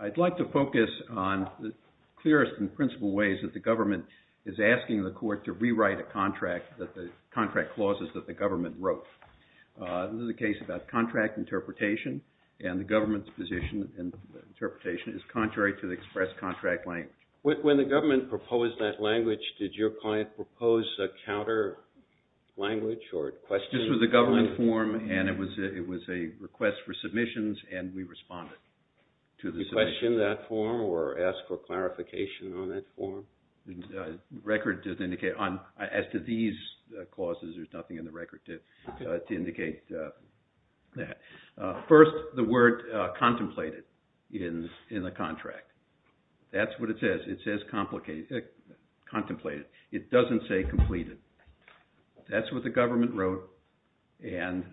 I'd like to focus on the clearest and principal ways that the government is asking the court to rewrite a contract that the contract clauses that the government wrote. This is a case about contract interpretation and the government's position and interpretation is contrary to the express contract language. When the government proposed that language, did your client propose a counter language or question? This was a government form and it was a request for submissions and we responded to the submission. Did you question that form or ask for clarification on that form? As to these clauses, there's nothing in the record to indicate that. First, the word contemplated in the contract. That's what it says. It says contemplated. It doesn't say completed. That's what the government wrote and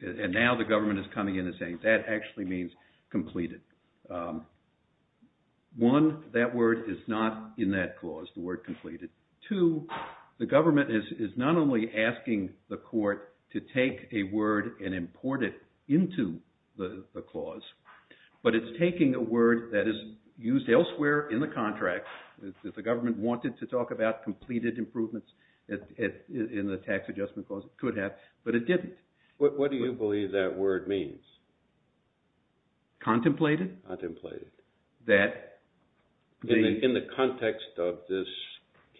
now the government is coming in and saying that actually means completed. One, that word is not in that clause, the word completed. Two, the government is not only asking the court to take a word and import it into the clause, but it's taking a word that is used elsewhere in the contract. If the government wanted to talk about completed improvements in the tax adjustment clause, it could have, but it didn't. What do you believe that word means? Contemplated? Contemplated. That... In the context of this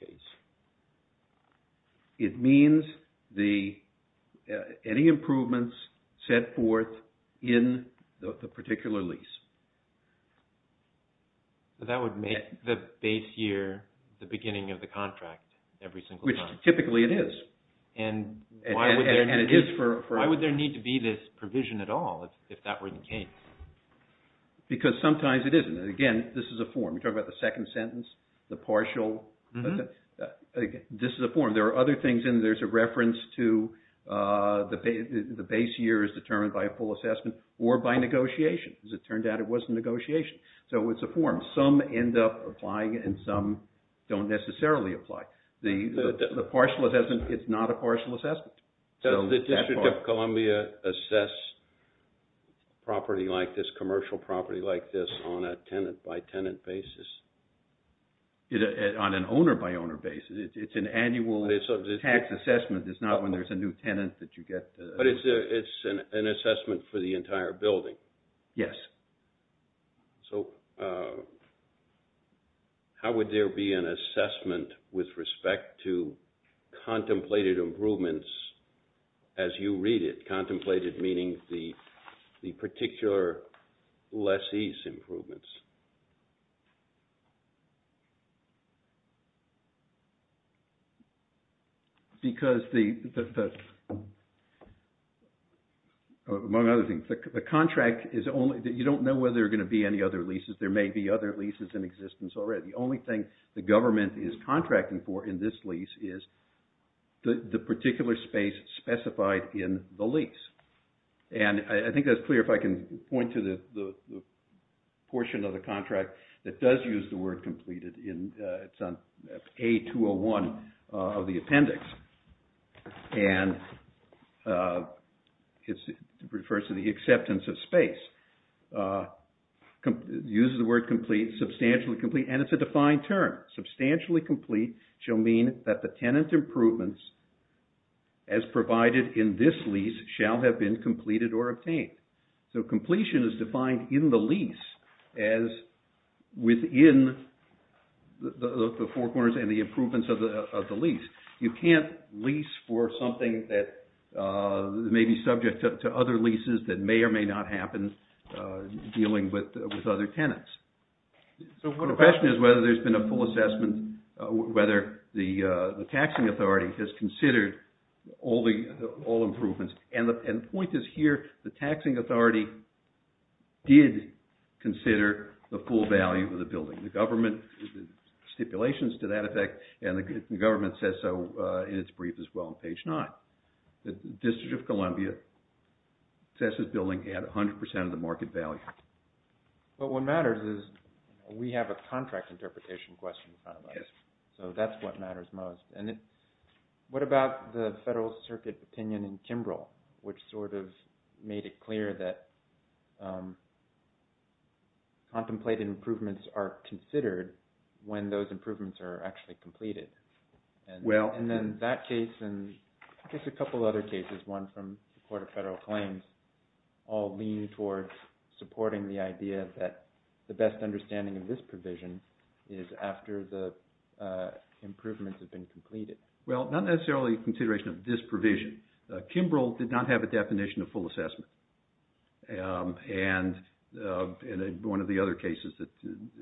case. It means any improvements set forth in the particular lease. That would make the base year the beginning of the contract every single time. Which typically it is. And why would there need to be this provision at all if that were the case? Because sometimes it isn't. And again, this is a form. We talk about the second sentence, the partial. This is a form. There are other things in there. There's a reference to the base year is determined by a full assessment or by negotiation. As it turned out, it was a negotiation. So it's a form. Some end up applying and some don't necessarily apply. The partial assessment, it's not a partial assessment. Does the District of Columbia assess property like this, commercial property like this, on a tenant by tenant basis? On an owner by owner basis. It's an annual tax assessment. It's not when there's a new tenant that you get... But it's an assessment for the entire building. Yes. So how would there be an assessment with respect to contemplated improvements as you read it? Contemplated meaning the particular lessee's improvements. Because the... among other things, the contract is only... you don't know whether there are going to be any other leases. There may be other leases in existence already. The only thing the government is contracting for in this lease is the particular space specified in the lease. And I think that's clear if I can point to the portion of the contract that does use the word completed. It's on A-201 of the appendix. And it refers to the acceptance of space. It uses the word complete, substantially complete, and it's a defined term. Substantially complete shall mean that the tenant improvements as provided in this lease shall have been completed or obtained. So completion is defined in the lease as within the four corners and the improvements of the lease. You can't lease for something that may be subject to other leases that may or may not happen dealing with other tenants. So the question is whether there's been a full assessment, whether the taxing authority has considered all improvements. And the point is here, the taxing authority did consider the full value of the building. The government stipulations to that effect, and the government says so in its brief as well on page nine. The District of Columbia says this building had 100% of the market value. But what matters is we have a contract interpretation question in front of us. So that's what matters most. And what about the Federal Circuit opinion in Kimbrough, which sort of made it clear that contemplated improvements are considered when those improvements are actually completed? And then that case and I guess a couple of other cases, one from the Court of Federal Claims, all lean towards supporting the idea that the best understanding of this provision is after the improvements have been completed. Well, not necessarily consideration of this provision. Kimbrough did not have a definition of full assessment. And one of the other cases that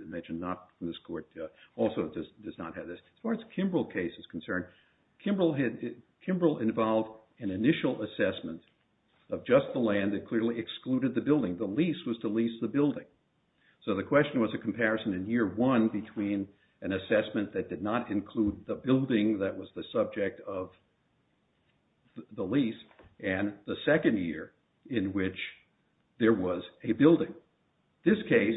mentioned not in this court also does not have this. As far as the Kimbrough case is concerned, Kimbrough involved an initial assessment of just the land that clearly excluded the building. The lease was to lease the building. So the question was a comparison in year one between an assessment that did not include the building that was the subject of the lease and the second year in which there was a building. This case,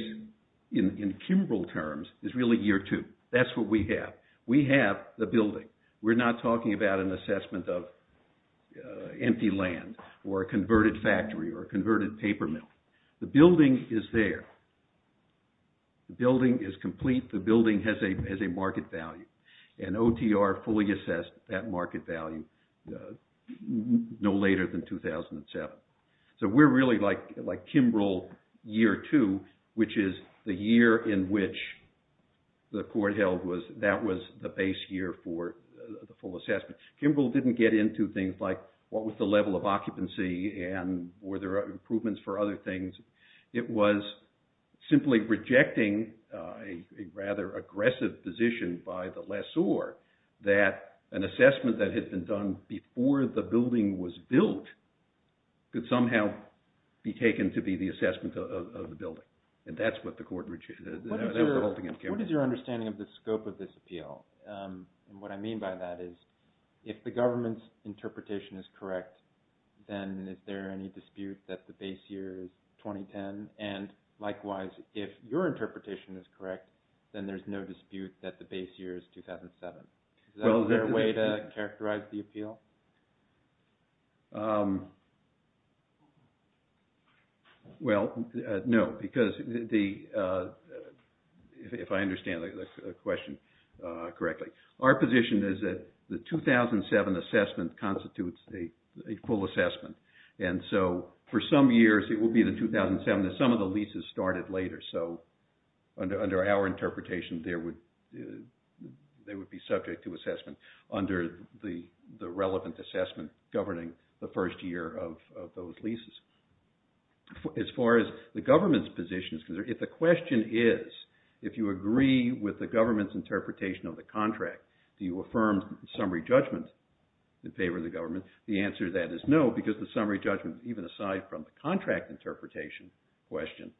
in Kimbrough terms, is really year two. That's what we have. We have the building. We're not talking about an assessment of empty land or a converted factory or a converted paper mill. The building is there. The building is complete. The building has a market value. And OTR fully assessed that market value no later than 2007. So we're really like Kimbrough year two, which is the year in which the court held that was the base year for the full assessment. Kimbrough didn't get into things like what was the level of occupancy and were there improvements for other things. It was simply rejecting a rather aggressive position by the lessor that an assessment that had been done before the building was built could somehow be taken to be the assessment of the building. And that's what the court rejected. What is your understanding of the scope of this appeal? And what I mean by that is if the government's interpretation is correct, then is there any dispute that the base year is 2010? And likewise, if your interpretation is correct, then there's no dispute that the base year is 2007. Is that a fair way to characterize the appeal? Well, no, because if I understand the question correctly, our position is that the 2007 assessment constitutes a full assessment. And so for some years, it will be the 2007. Some of the leases started later. So under our interpretation, they would be subject to assessment under the relevant assessment governing the first year of those leases. As far as the government's position is concerned, if the question is if you agree with the government's interpretation of the contract, do you affirm summary judgment in favor of the government? The answer to that is no, because the summary judgment, even aside from the contract interpretation question,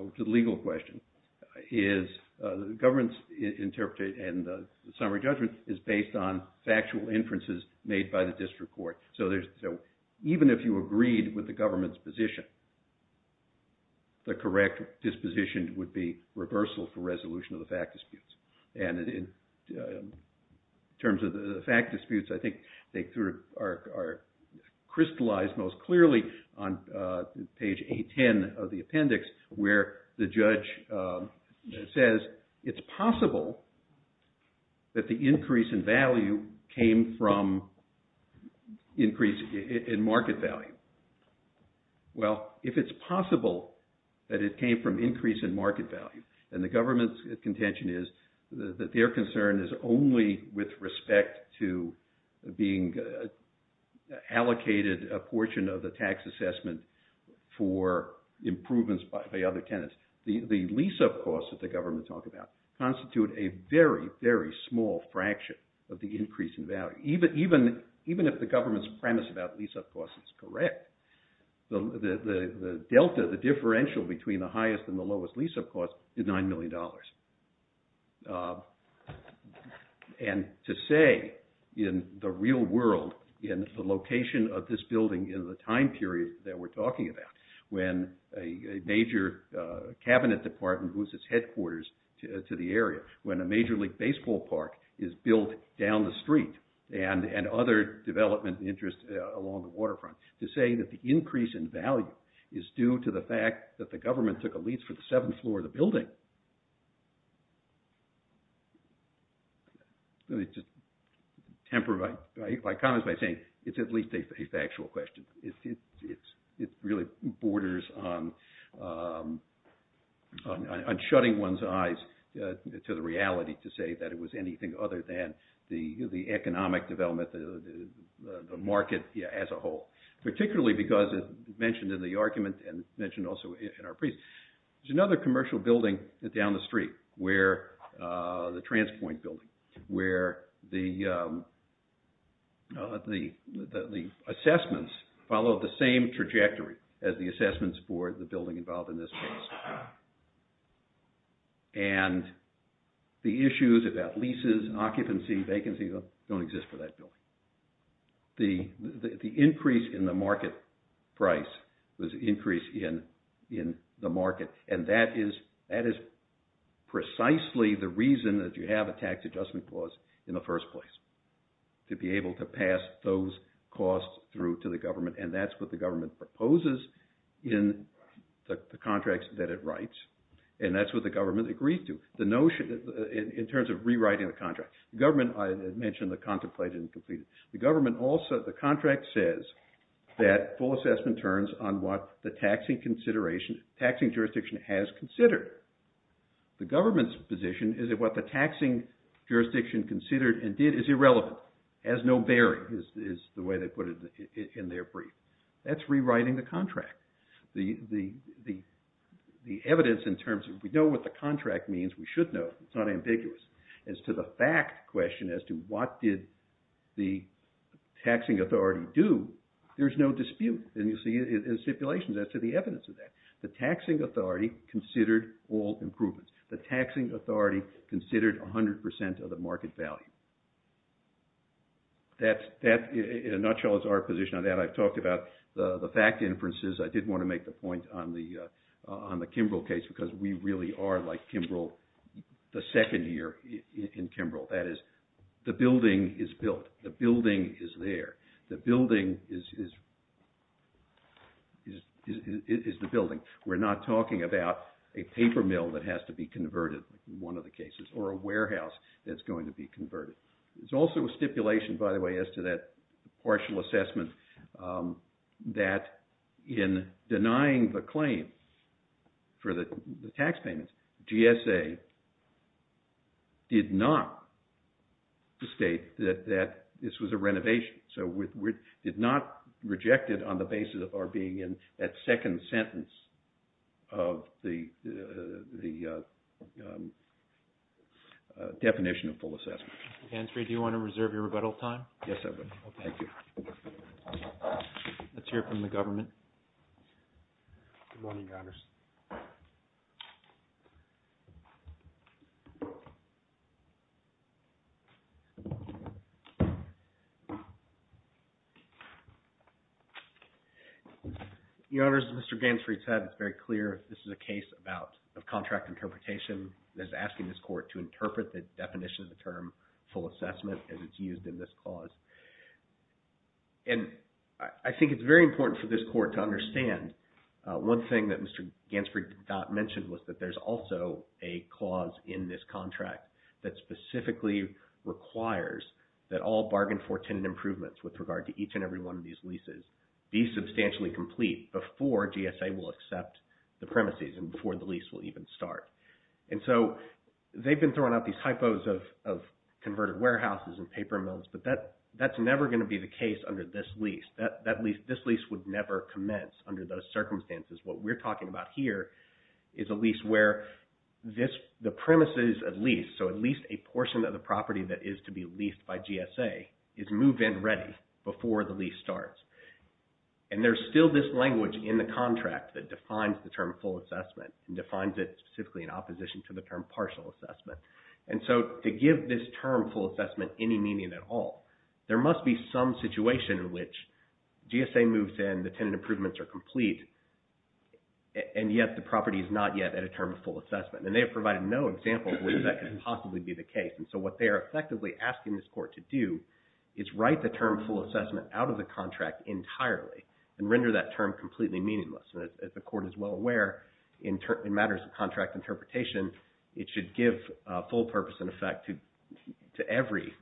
which is a legal question, is the government's interpretation and the summary judgment is based on factual inferences made by the district court. So even if you agreed with the government's position, the correct disposition would be reversal for resolution of the fact disputes. And in terms of the fact disputes, I think they are crystallized most clearly on page 810 of the appendix where the judge says it's possible that the increase in value came from increase in market value. Well, if it's possible that it came from increase in market value, then the government's contention is that their concern is only with respect to being allocated a portion of the tax assessment for improvements by other tenants. The lease-up costs that the government talked about constitute a very, very small fraction of the increase in value. Even if the government's premise about lease-up costs is correct, the delta, the differential between the highest and the lowest lease-up cost is $9 million. And to say in the real world, in the location of this building in the time period that we're talking about, when a major cabinet department moves its headquarters to the area, when a major league baseball park is built down the street, and other development interests along the waterfront, to say that the increase in value is due to the fact that the government took a lease for the seventh floor of the building, it's at least a factual question. It really borders on shutting one's eyes to the reality to say that it was anything other than the economic development, the market as a whole. Particularly because, as mentioned in the argument and mentioned also in our brief, there's another commercial building down the street, the Transpoint building, where the assessments follow the same trajectory as the assessments for the building involved in this case. And the issues about leases, occupancy, vacancy don't exist for that building. The increase in the market price was an increase in the market, and that is precisely the reason that you have a tax adjustment clause in the first place, to be able to pass those costs through to the government. And that's what the government proposes in the contracts that it writes, and that's what the government agrees to. The notion, in terms of rewriting the contract, the government, I mentioned the contemplated and completed, the government also, the contract says that full assessment turns on what the taxing jurisdiction has considered. The government's position is that what the taxing jurisdiction considered and did is irrelevant, has no bearing, is the way they put it in their brief. That's rewriting the contract. The evidence in terms of we know what the contract means, we should know, it's not ambiguous. As to the fact question, as to what did the taxing authority do, there's no dispute in stipulations as to the evidence of that. The taxing authority considered all improvements. The taxing authority considered 100% of the market value. In a nutshell, it's our position on that. I've talked about the fact inferences. I did want to make the point on the Kimbrell case, because we really are like Kimbrell, the second year in Kimbrell. That is, the building is built. The building is there. The building is the building. We're not talking about a paper mill that has to be converted, one of the cases, or a warehouse that's going to be converted. It's also a stipulation, by the way, as to that partial assessment that in denying the claim for the tax payments, GSA did not state that this was a renovation. So we did not reject it on the basis of our being in that second sentence of the definition of full assessment. Mr. Gainsbury, do you want to reserve your rebuttal time? Yes, I would. Thank you. Let's hear from the government. Good morning, Your Honors. Your Honors, as Mr. Gainsbury said, it's very clear this is a case of contract interpretation that's asking this Court to interpret the definition of the term full assessment as it's used in this clause. And I think it's very important for this Court to understand one thing that Mr. Gainsbury did not mention was that there's also a clause in this contract that specifically requires that all bargain for tenant improvements with regard to each and every one of these leases be substantially complete before GSA will accept the premises and before the lease will even start. And so they've been throwing out these typos of converted warehouses and paper mills, but that's never going to be the case under this lease. This lease would never commence under those circumstances. What we're talking about here is a lease where the premises at least, so at least a portion of the property that is to be leased by GSA, is move-in ready before the lease starts. And there's still this language in the contract that defines the term full assessment and defines it specifically in opposition to the term partial assessment. And so to give this term full assessment any meaning at all, there must be some situation in which GSA moves in, the tenant improvements are complete, and yet the property is not yet at a term of full assessment. And they have provided no example of where that can possibly be the case. And so what they are effectively asking this court to do is write the term full assessment out of the contract entirely and render that term completely meaningless. And as the court is well aware, in matters of contract interpretation, it should give full purpose and effect to every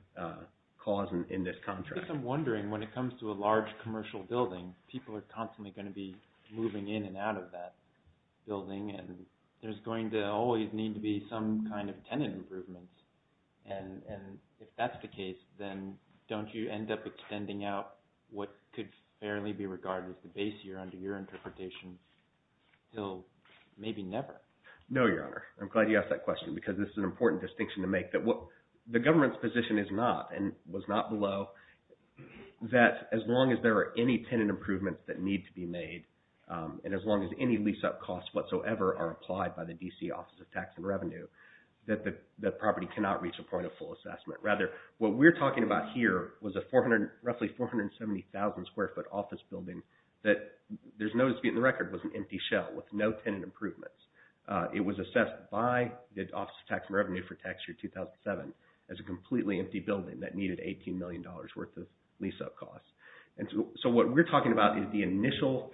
clause in this contract. I guess I'm wondering when it comes to a large commercial building, people are constantly going to be moving in and out of that building, and there's going to always need to be some kind of tenant improvements. And if that's the case, then don't you end up extending out what could fairly be regarded as the base year under your interpretation until maybe never? No, Your Honor. I'm glad you asked that question because this is an important distinction to make. The government's position is not, and was not below, that as long as there are any tenant improvements that need to be made, and as long as any lease-up costs whatsoever are applied by the D.C. Office of Tax and Revenue, that the property cannot reach a point of full assessment. Rather, what we're talking about here was a roughly 470,000 square foot office building that, there's no dispute in the record, was an empty shell with no tenant improvements. It was assessed by the Office of Tax and Revenue for tax year 2007 as a completely empty building that needed $18 million worth of lease-up costs. And so what we're talking about is the initial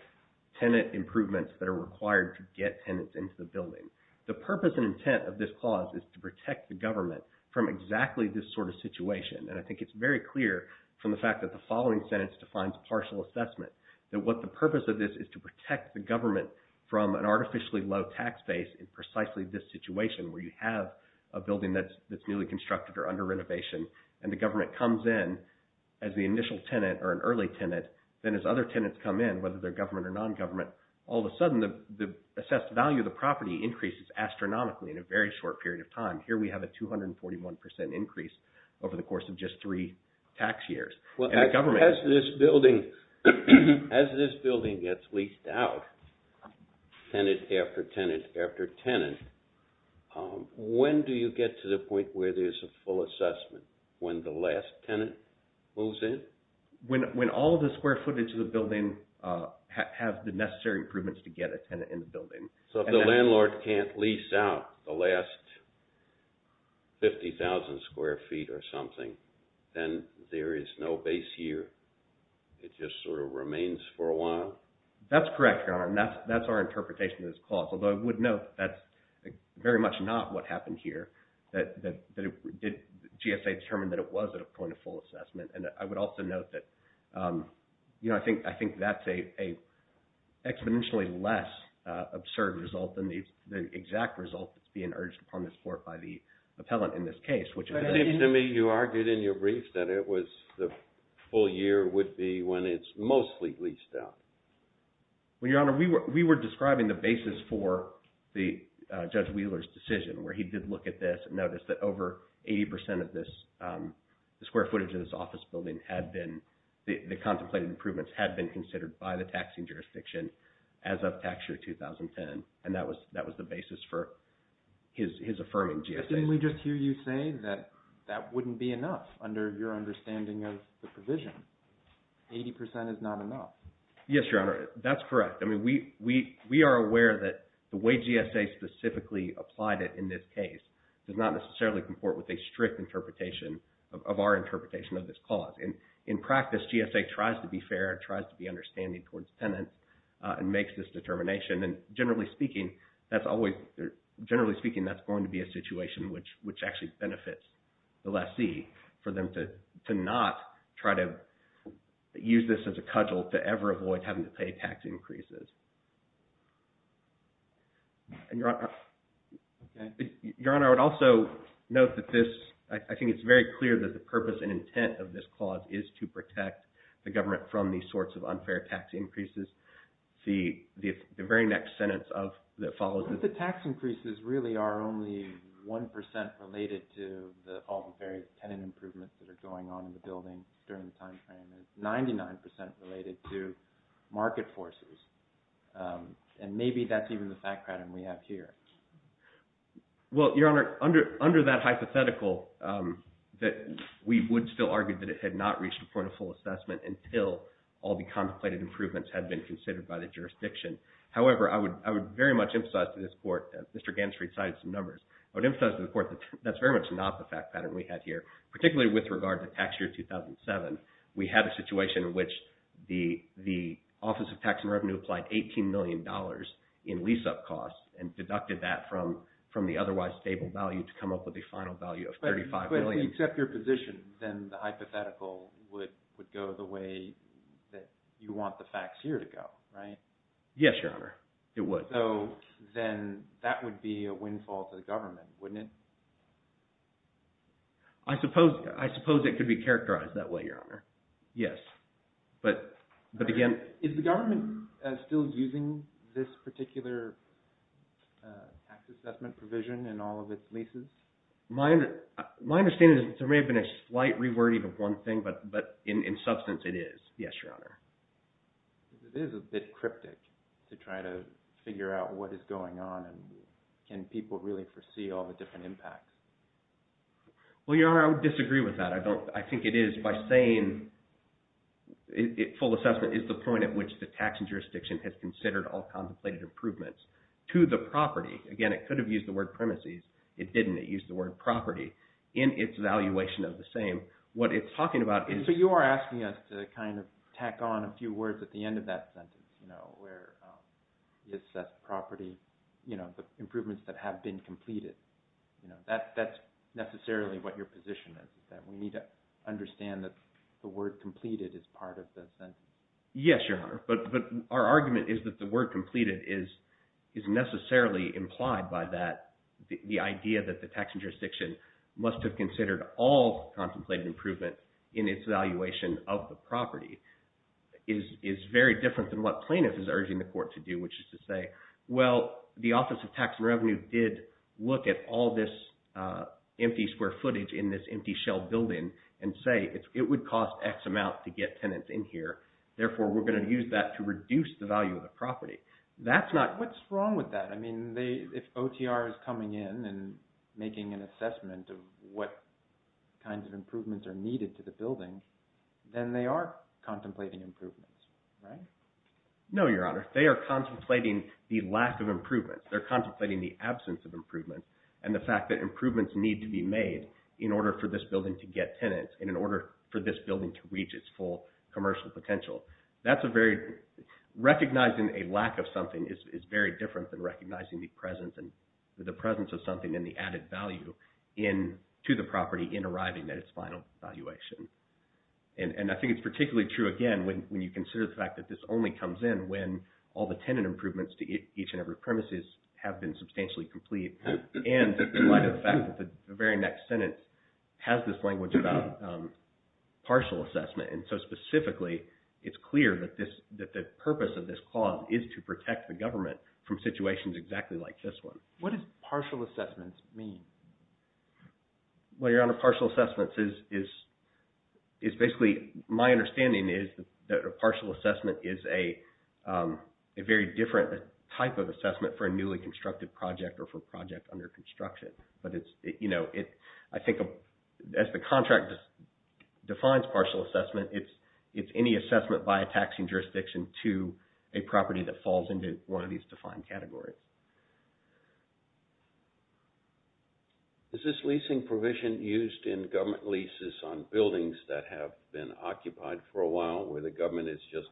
tenant improvements that are required to get tenants into the building. The purpose and intent of this clause is to protect the government from exactly this sort of situation, and I think it's very clear from the fact that the following sentence defines partial assessment, that what the purpose of this is to protect the government from an artificially low tax base in precisely this situation where you have a building that's newly constructed or under renovation, and the government comes in as the initial tenant or an early tenant, then as other tenants come in, whether they're government or non-government, all of a sudden the assessed value of the property increases astronomically in a very short period of time. Here we have a 241 percent increase over the course of just three tax years. Well, as this building gets leased out, tenant after tenant after tenant, when do you get to the point where there's a full assessment? When the last tenant moves in? When all of the square footage of the building has the necessary improvements to get a tenant in the building. So if the landlord can't lease out the last 50,000 square feet or something, then there is no base year? It just sort of remains for a while? That's correct, Your Honor, and that's our interpretation of this clause, although I would note that's very much not what happened here. GSA determined that it was at a point of full assessment, and I would also note that I think that's an exponentially less absurd result than the exact result that's being urged upon this Court by the appellant in this case. It seems to me you argued in your brief that the full year would be when it's mostly leased out. Well, Your Honor, we were describing the basis for Judge Wheeler's decision where he did look at this and noticed that over 80 percent of the square footage of this office building had been – the contemplated improvements had been considered by the taxing jurisdiction as of tax year 2010, and that was the basis for his affirming GSA. Didn't we just hear you say that that wouldn't be enough under your understanding of the provision? 80 percent is not enough. Yes, Your Honor, that's correct. I mean, we are aware that the way GSA specifically applied it in this case does not necessarily comport with a strict interpretation of our interpretation of this clause. In practice, GSA tries to be fair and tries to be understanding towards tenants and makes this determination, and generally speaking, that's always – generally speaking, that's going to be a situation which actually benefits the lessee, for them to not try to use this as a cudgel to ever avoid having to pay tax increases. Your Honor, I would also note that this – I think it's very clear that the purpose and intent of this clause is to protect the government from these sorts of unfair tax increases. The very next sentence of – that follows is – The tax increases really are only 1 percent related to all the various tenant improvements that are going on in the building during the timeframe. It's 99 percent related to market forces, and maybe that's even the fact pattern we have here. Well, Your Honor, under that hypothetical, we would still argue that it had not reached a point of full assessment until all the contemplated improvements had been considered by the jurisdiction. However, I would very much emphasize to this Court – Mr. Ganser has cited some numbers – I would emphasize to the Court that that's very much not the fact pattern we have here, particularly with regard to tax year 2007. We had a situation in which the Office of Tax and Revenue applied $18 million in lease-up costs and deducted that from the otherwise stable value to come up with a final value of $35 million. But if we accept your position, then the hypothetical would go the way that you want the facts here to go, right? Yes, Your Honor, it would. So then that would be a windfall to the government, wouldn't it? I suppose it could be characterized that way, Your Honor. Yes. But again – Is the government still using this particular tax assessment provision in all of its leases? My understanding is that there may have been a slight rewording of one thing, but in substance it is. Yes, Your Honor. It is a bit cryptic to try to figure out what is going on, and can people really foresee all the different impacts? Well, Your Honor, I would disagree with that. I think it is by saying full assessment is the point at which the taxing jurisdiction has considered all contemplated improvements to the property. Again, it could have used the word premises. It didn't. It used the word property in its evaluation of the same. What it's talking about is – It's not necessarily what your position is. We need to understand that the word completed is part of the sentence. Yes, Your Honor, but our argument is that the word completed is necessarily implied by that – the idea that the taxing jurisdiction must have considered all contemplated improvement in its evaluation of the property is very different than what plaintiff is urging the court to do, which is to say, well, the Office of Tax and Revenue did look at all this empty square footage in this empty shell building and say it would cost X amount to get tenants in here. Therefore, we're going to use that to reduce the value of the property. What's wrong with that? I mean if OTR is coming in and making an assessment of what kinds of improvements are needed to the building, then they are contemplating improvements, right? No, Your Honor. They are contemplating the lack of improvements. They're contemplating the absence of improvements and the fact that improvements need to be made in order for this building to get tenants and in order for this building to reach its full commercial potential. Recognizing a lack of something is very different than recognizing the presence of something and the added value to the property in arriving at its final evaluation. And I think it's particularly true, again, when you consider the fact that this only comes in when all the tenant improvements to each and every premises have been substantially complete and in light of the fact that the very next sentence has this language about partial assessment. And so specifically, it's clear that the purpose of this clause is to protect the government from situations exactly like this one. What does partial assessments mean? Well, Your Honor, partial assessments is basically, my understanding is that a partial assessment is a very different type of assessment for a newly constructed project or for a project under construction. But I think as the contract defines partial assessment, it's any assessment by a taxing jurisdiction to a property that falls into one of these defined categories. Is this leasing provision used in government leases on buildings that have been occupied for a while where the government is just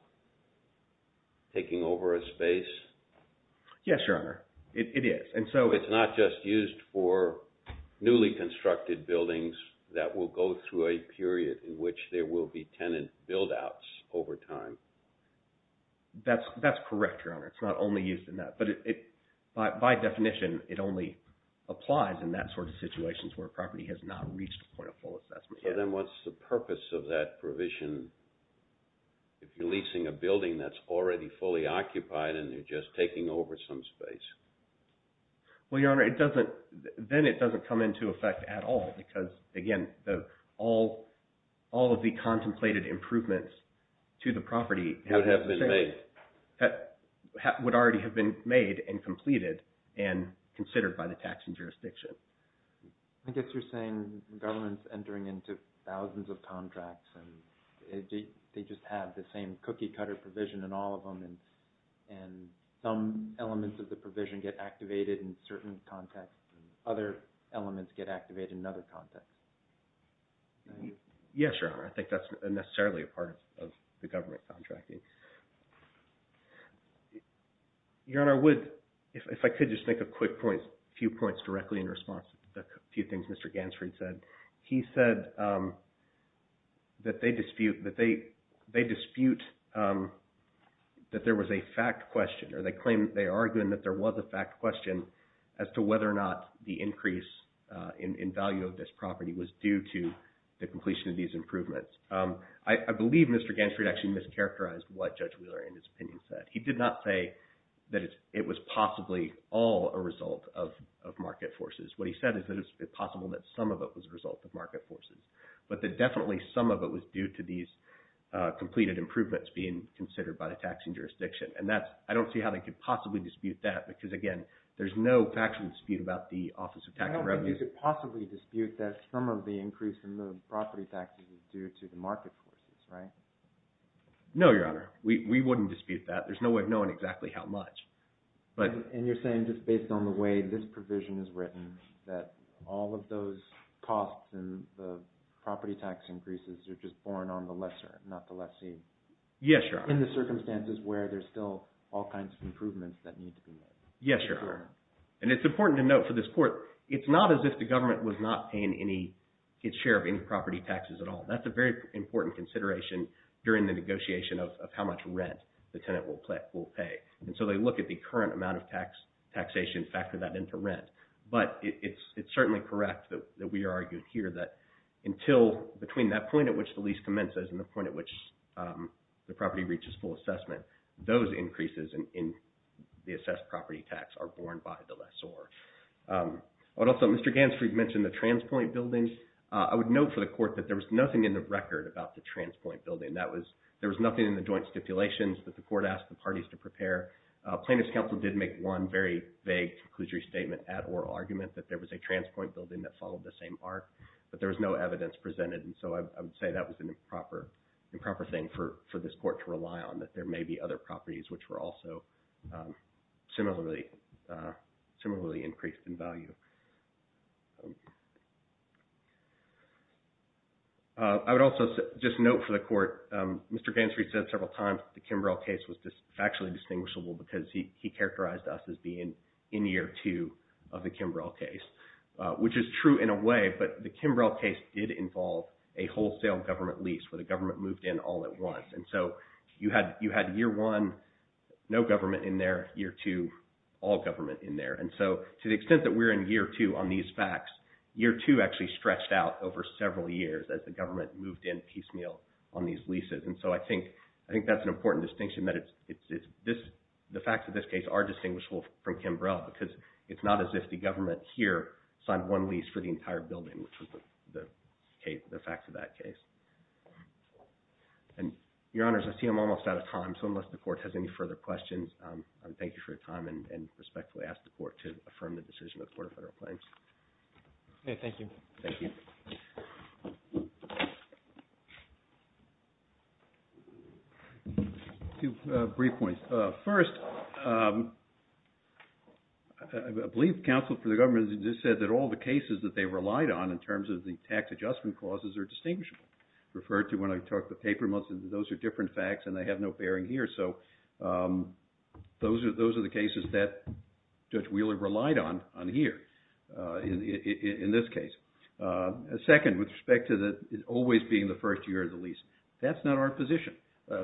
taking over a space? Yes, Your Honor, it is. It's not just used for newly constructed buildings that will go through a period in which there will be tenant build-outs over time? That's correct, Your Honor. It's not only used in that. But by definition, it only applies in that sort of situations where a property has not reached a point of full assessment. Okay, then what's the purpose of that provision if you're leasing a building that's already fully occupied and you're just taking over some space? Well, Your Honor, then it doesn't come into effect at all because, again, all of the contemplated improvements to the property would already have been made and completed and considered by the taxing jurisdiction. I guess you're saying government's entering into thousands of contracts and they just have the same cookie-cutter provision in all of them and some elements of the provision get activated in certain contexts and other elements get activated in another context. Yes, Your Honor, I think that's necessarily a part of the government contracting. Your Honor, I would, if I could just make a quick point, a few points directly in response to a few things Mr. Gansfried said. He said that they dispute that there was a fact question or they claim, they are arguing that there was a fact question as to whether or not the increase in value of this property was due to the completion of these improvements. I believe Mr. Gansfried actually mischaracterized what Judge Wheeler, in his opinion, said. He did not say that it was possibly all a result of market forces. What he said is that it's possible that some of it was a result of market forces, but that definitely some of it was due to these completed improvements being considered by the taxing jurisdiction. And that's, I don't see how they could possibly dispute that because, again, there's no factual dispute about the Office of Tax and Revenue. I don't think they could possibly dispute that some of the increase in the property taxes is due to the market forces, right? No, Your Honor. We wouldn't dispute that. There's no way of knowing exactly how much. And you're saying just based on the way this provision is written that all of those costs and the property tax increases are just borne on the lesser, not the lessee. Yes, Your Honor. In the circumstances where there's still all kinds of improvements that need to be made. Yes, Your Honor. And it's important to note for this court, it's not as if the government was not paying its share of any property taxes at all. That's a very important consideration during the negotiation of how much rent the tenant will pay. And so they look at the current amount of taxation, factor that into rent. But it's certainly correct that we are arguing here that until, between that point at which the lease commences and the point at which the property reaches full assessment, those increases in the assessed property tax are borne by the lessor. Also, Mr. Gansfried mentioned the Transpoint Building. I would note for the court that there was nothing in the record about the Transpoint Building. There was nothing in the joint stipulations that the court asked the parties to prepare. Plaintiff's counsel did make one very vague conclusory statement at oral argument that there was a Transpoint Building that followed the same arc, but there was no evidence presented. And so I would say that was an improper thing for this court to rely on, that there may be other properties which were also similarly increased in value. I would also just note for the court, Mr. Gansfried said several times that the Kimbrell case was factually distinguishable because he characterized us as being in year two of the Kimbrell case, which is true in a way. But the Kimbrell case did involve a wholesale government lease where the government moved in all at once. And so you had year one, no government in there, year two, all government in there. And so to the extent that we're in year two on these facts, year two actually stretched out over several years as the government moved in piecemeal on these leases. And so I think that's an important distinction that the facts of this case are distinguishable from Kimbrell because it's not as if the government here signed one lease for the entire building, which was the facts of that case. And, Your Honors, I see I'm almost out of time, so unless the court has any further questions, I would thank you for your time and respectfully ask the court to affirm the decision of the Court of Federal Claims. Okay, thank you. Thank you. Two brief points. First, I believe counsel for the government has just said that all the cases that they relied on in terms of the tax adjustment clauses are distinguishable. Referred to when I talked about paper months, those are different facts and they have no bearing here. So those are the cases that Judge Wheeler relied on here in this case. Second, with respect to it always being the first year of the lease, that's not our position.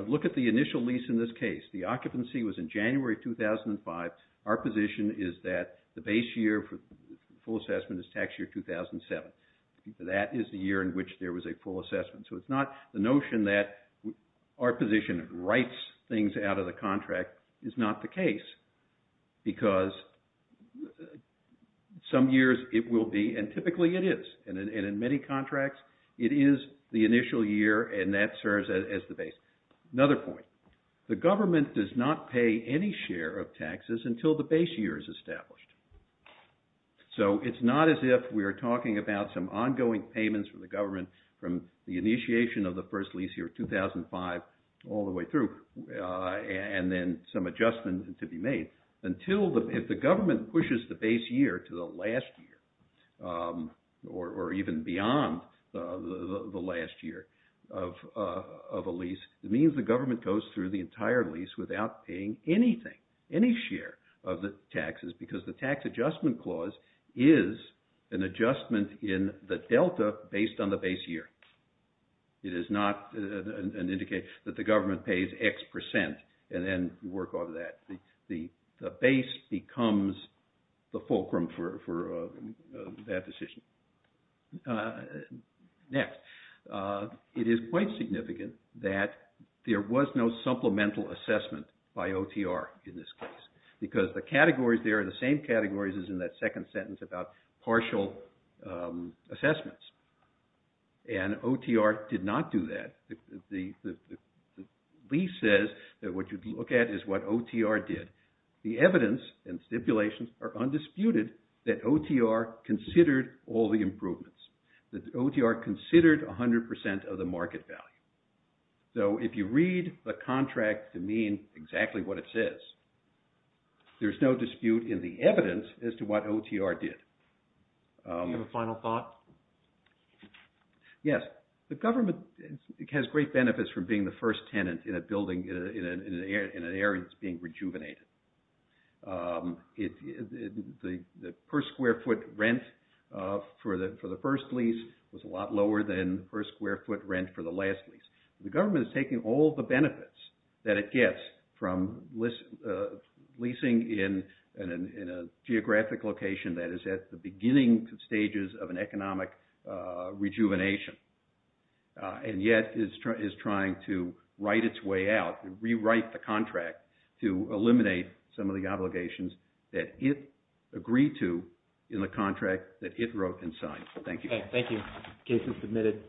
Look at the initial lease in this case. The occupancy was in January 2005. Our position is that the base year for full assessment is tax year 2007. That is the year in which there was a full assessment. So it's not the notion that our position writes things out of the contract is not the case. Because some years it will be, and typically it is, and in many contracts it is the initial year and that serves as the base. Another point. The government does not pay any share of taxes until the base year is established. So it's not as if we are talking about some ongoing payments from the government from the initiation of the first lease year 2005 all the way through and then some adjustments to be made. If the government pushes the base year to the last year or even beyond the last year of a lease, it means the government goes through the entire lease without paying anything, any share of the taxes. Because the tax adjustment clause is an adjustment in the delta based on the base year. It is not an indication that the government pays X percent and then work on that. The base becomes the fulcrum for that decision. Next. It is quite significant that there was no supplemental assessment by OTR in this case. Because the categories there are the same categories as in that second sentence about partial assessments. And OTR did not do that. The lease says that what you look at is what OTR did. The evidence and stipulations are undisputed that OTR considered all the improvements. That OTR considered 100 percent of the market value. So if you read the contract to mean exactly what it says, there is no dispute in the evidence as to what OTR did. Do you have a final thought? Yes. The government has great benefits from being the first tenant in an area that is being rejuvenated. The per square foot rent for the first lease was a lot lower than the per square foot rent for the last lease. The government is taking all the benefits that it gets from leasing in a geographic location that is at the beginning stages of an economic rejuvenation. And yet is trying to write its way out and rewrite the contract to eliminate some of the obligations that it agreed to in the contract that it wrote and signed. Thank you. Thank you. Case is submitted.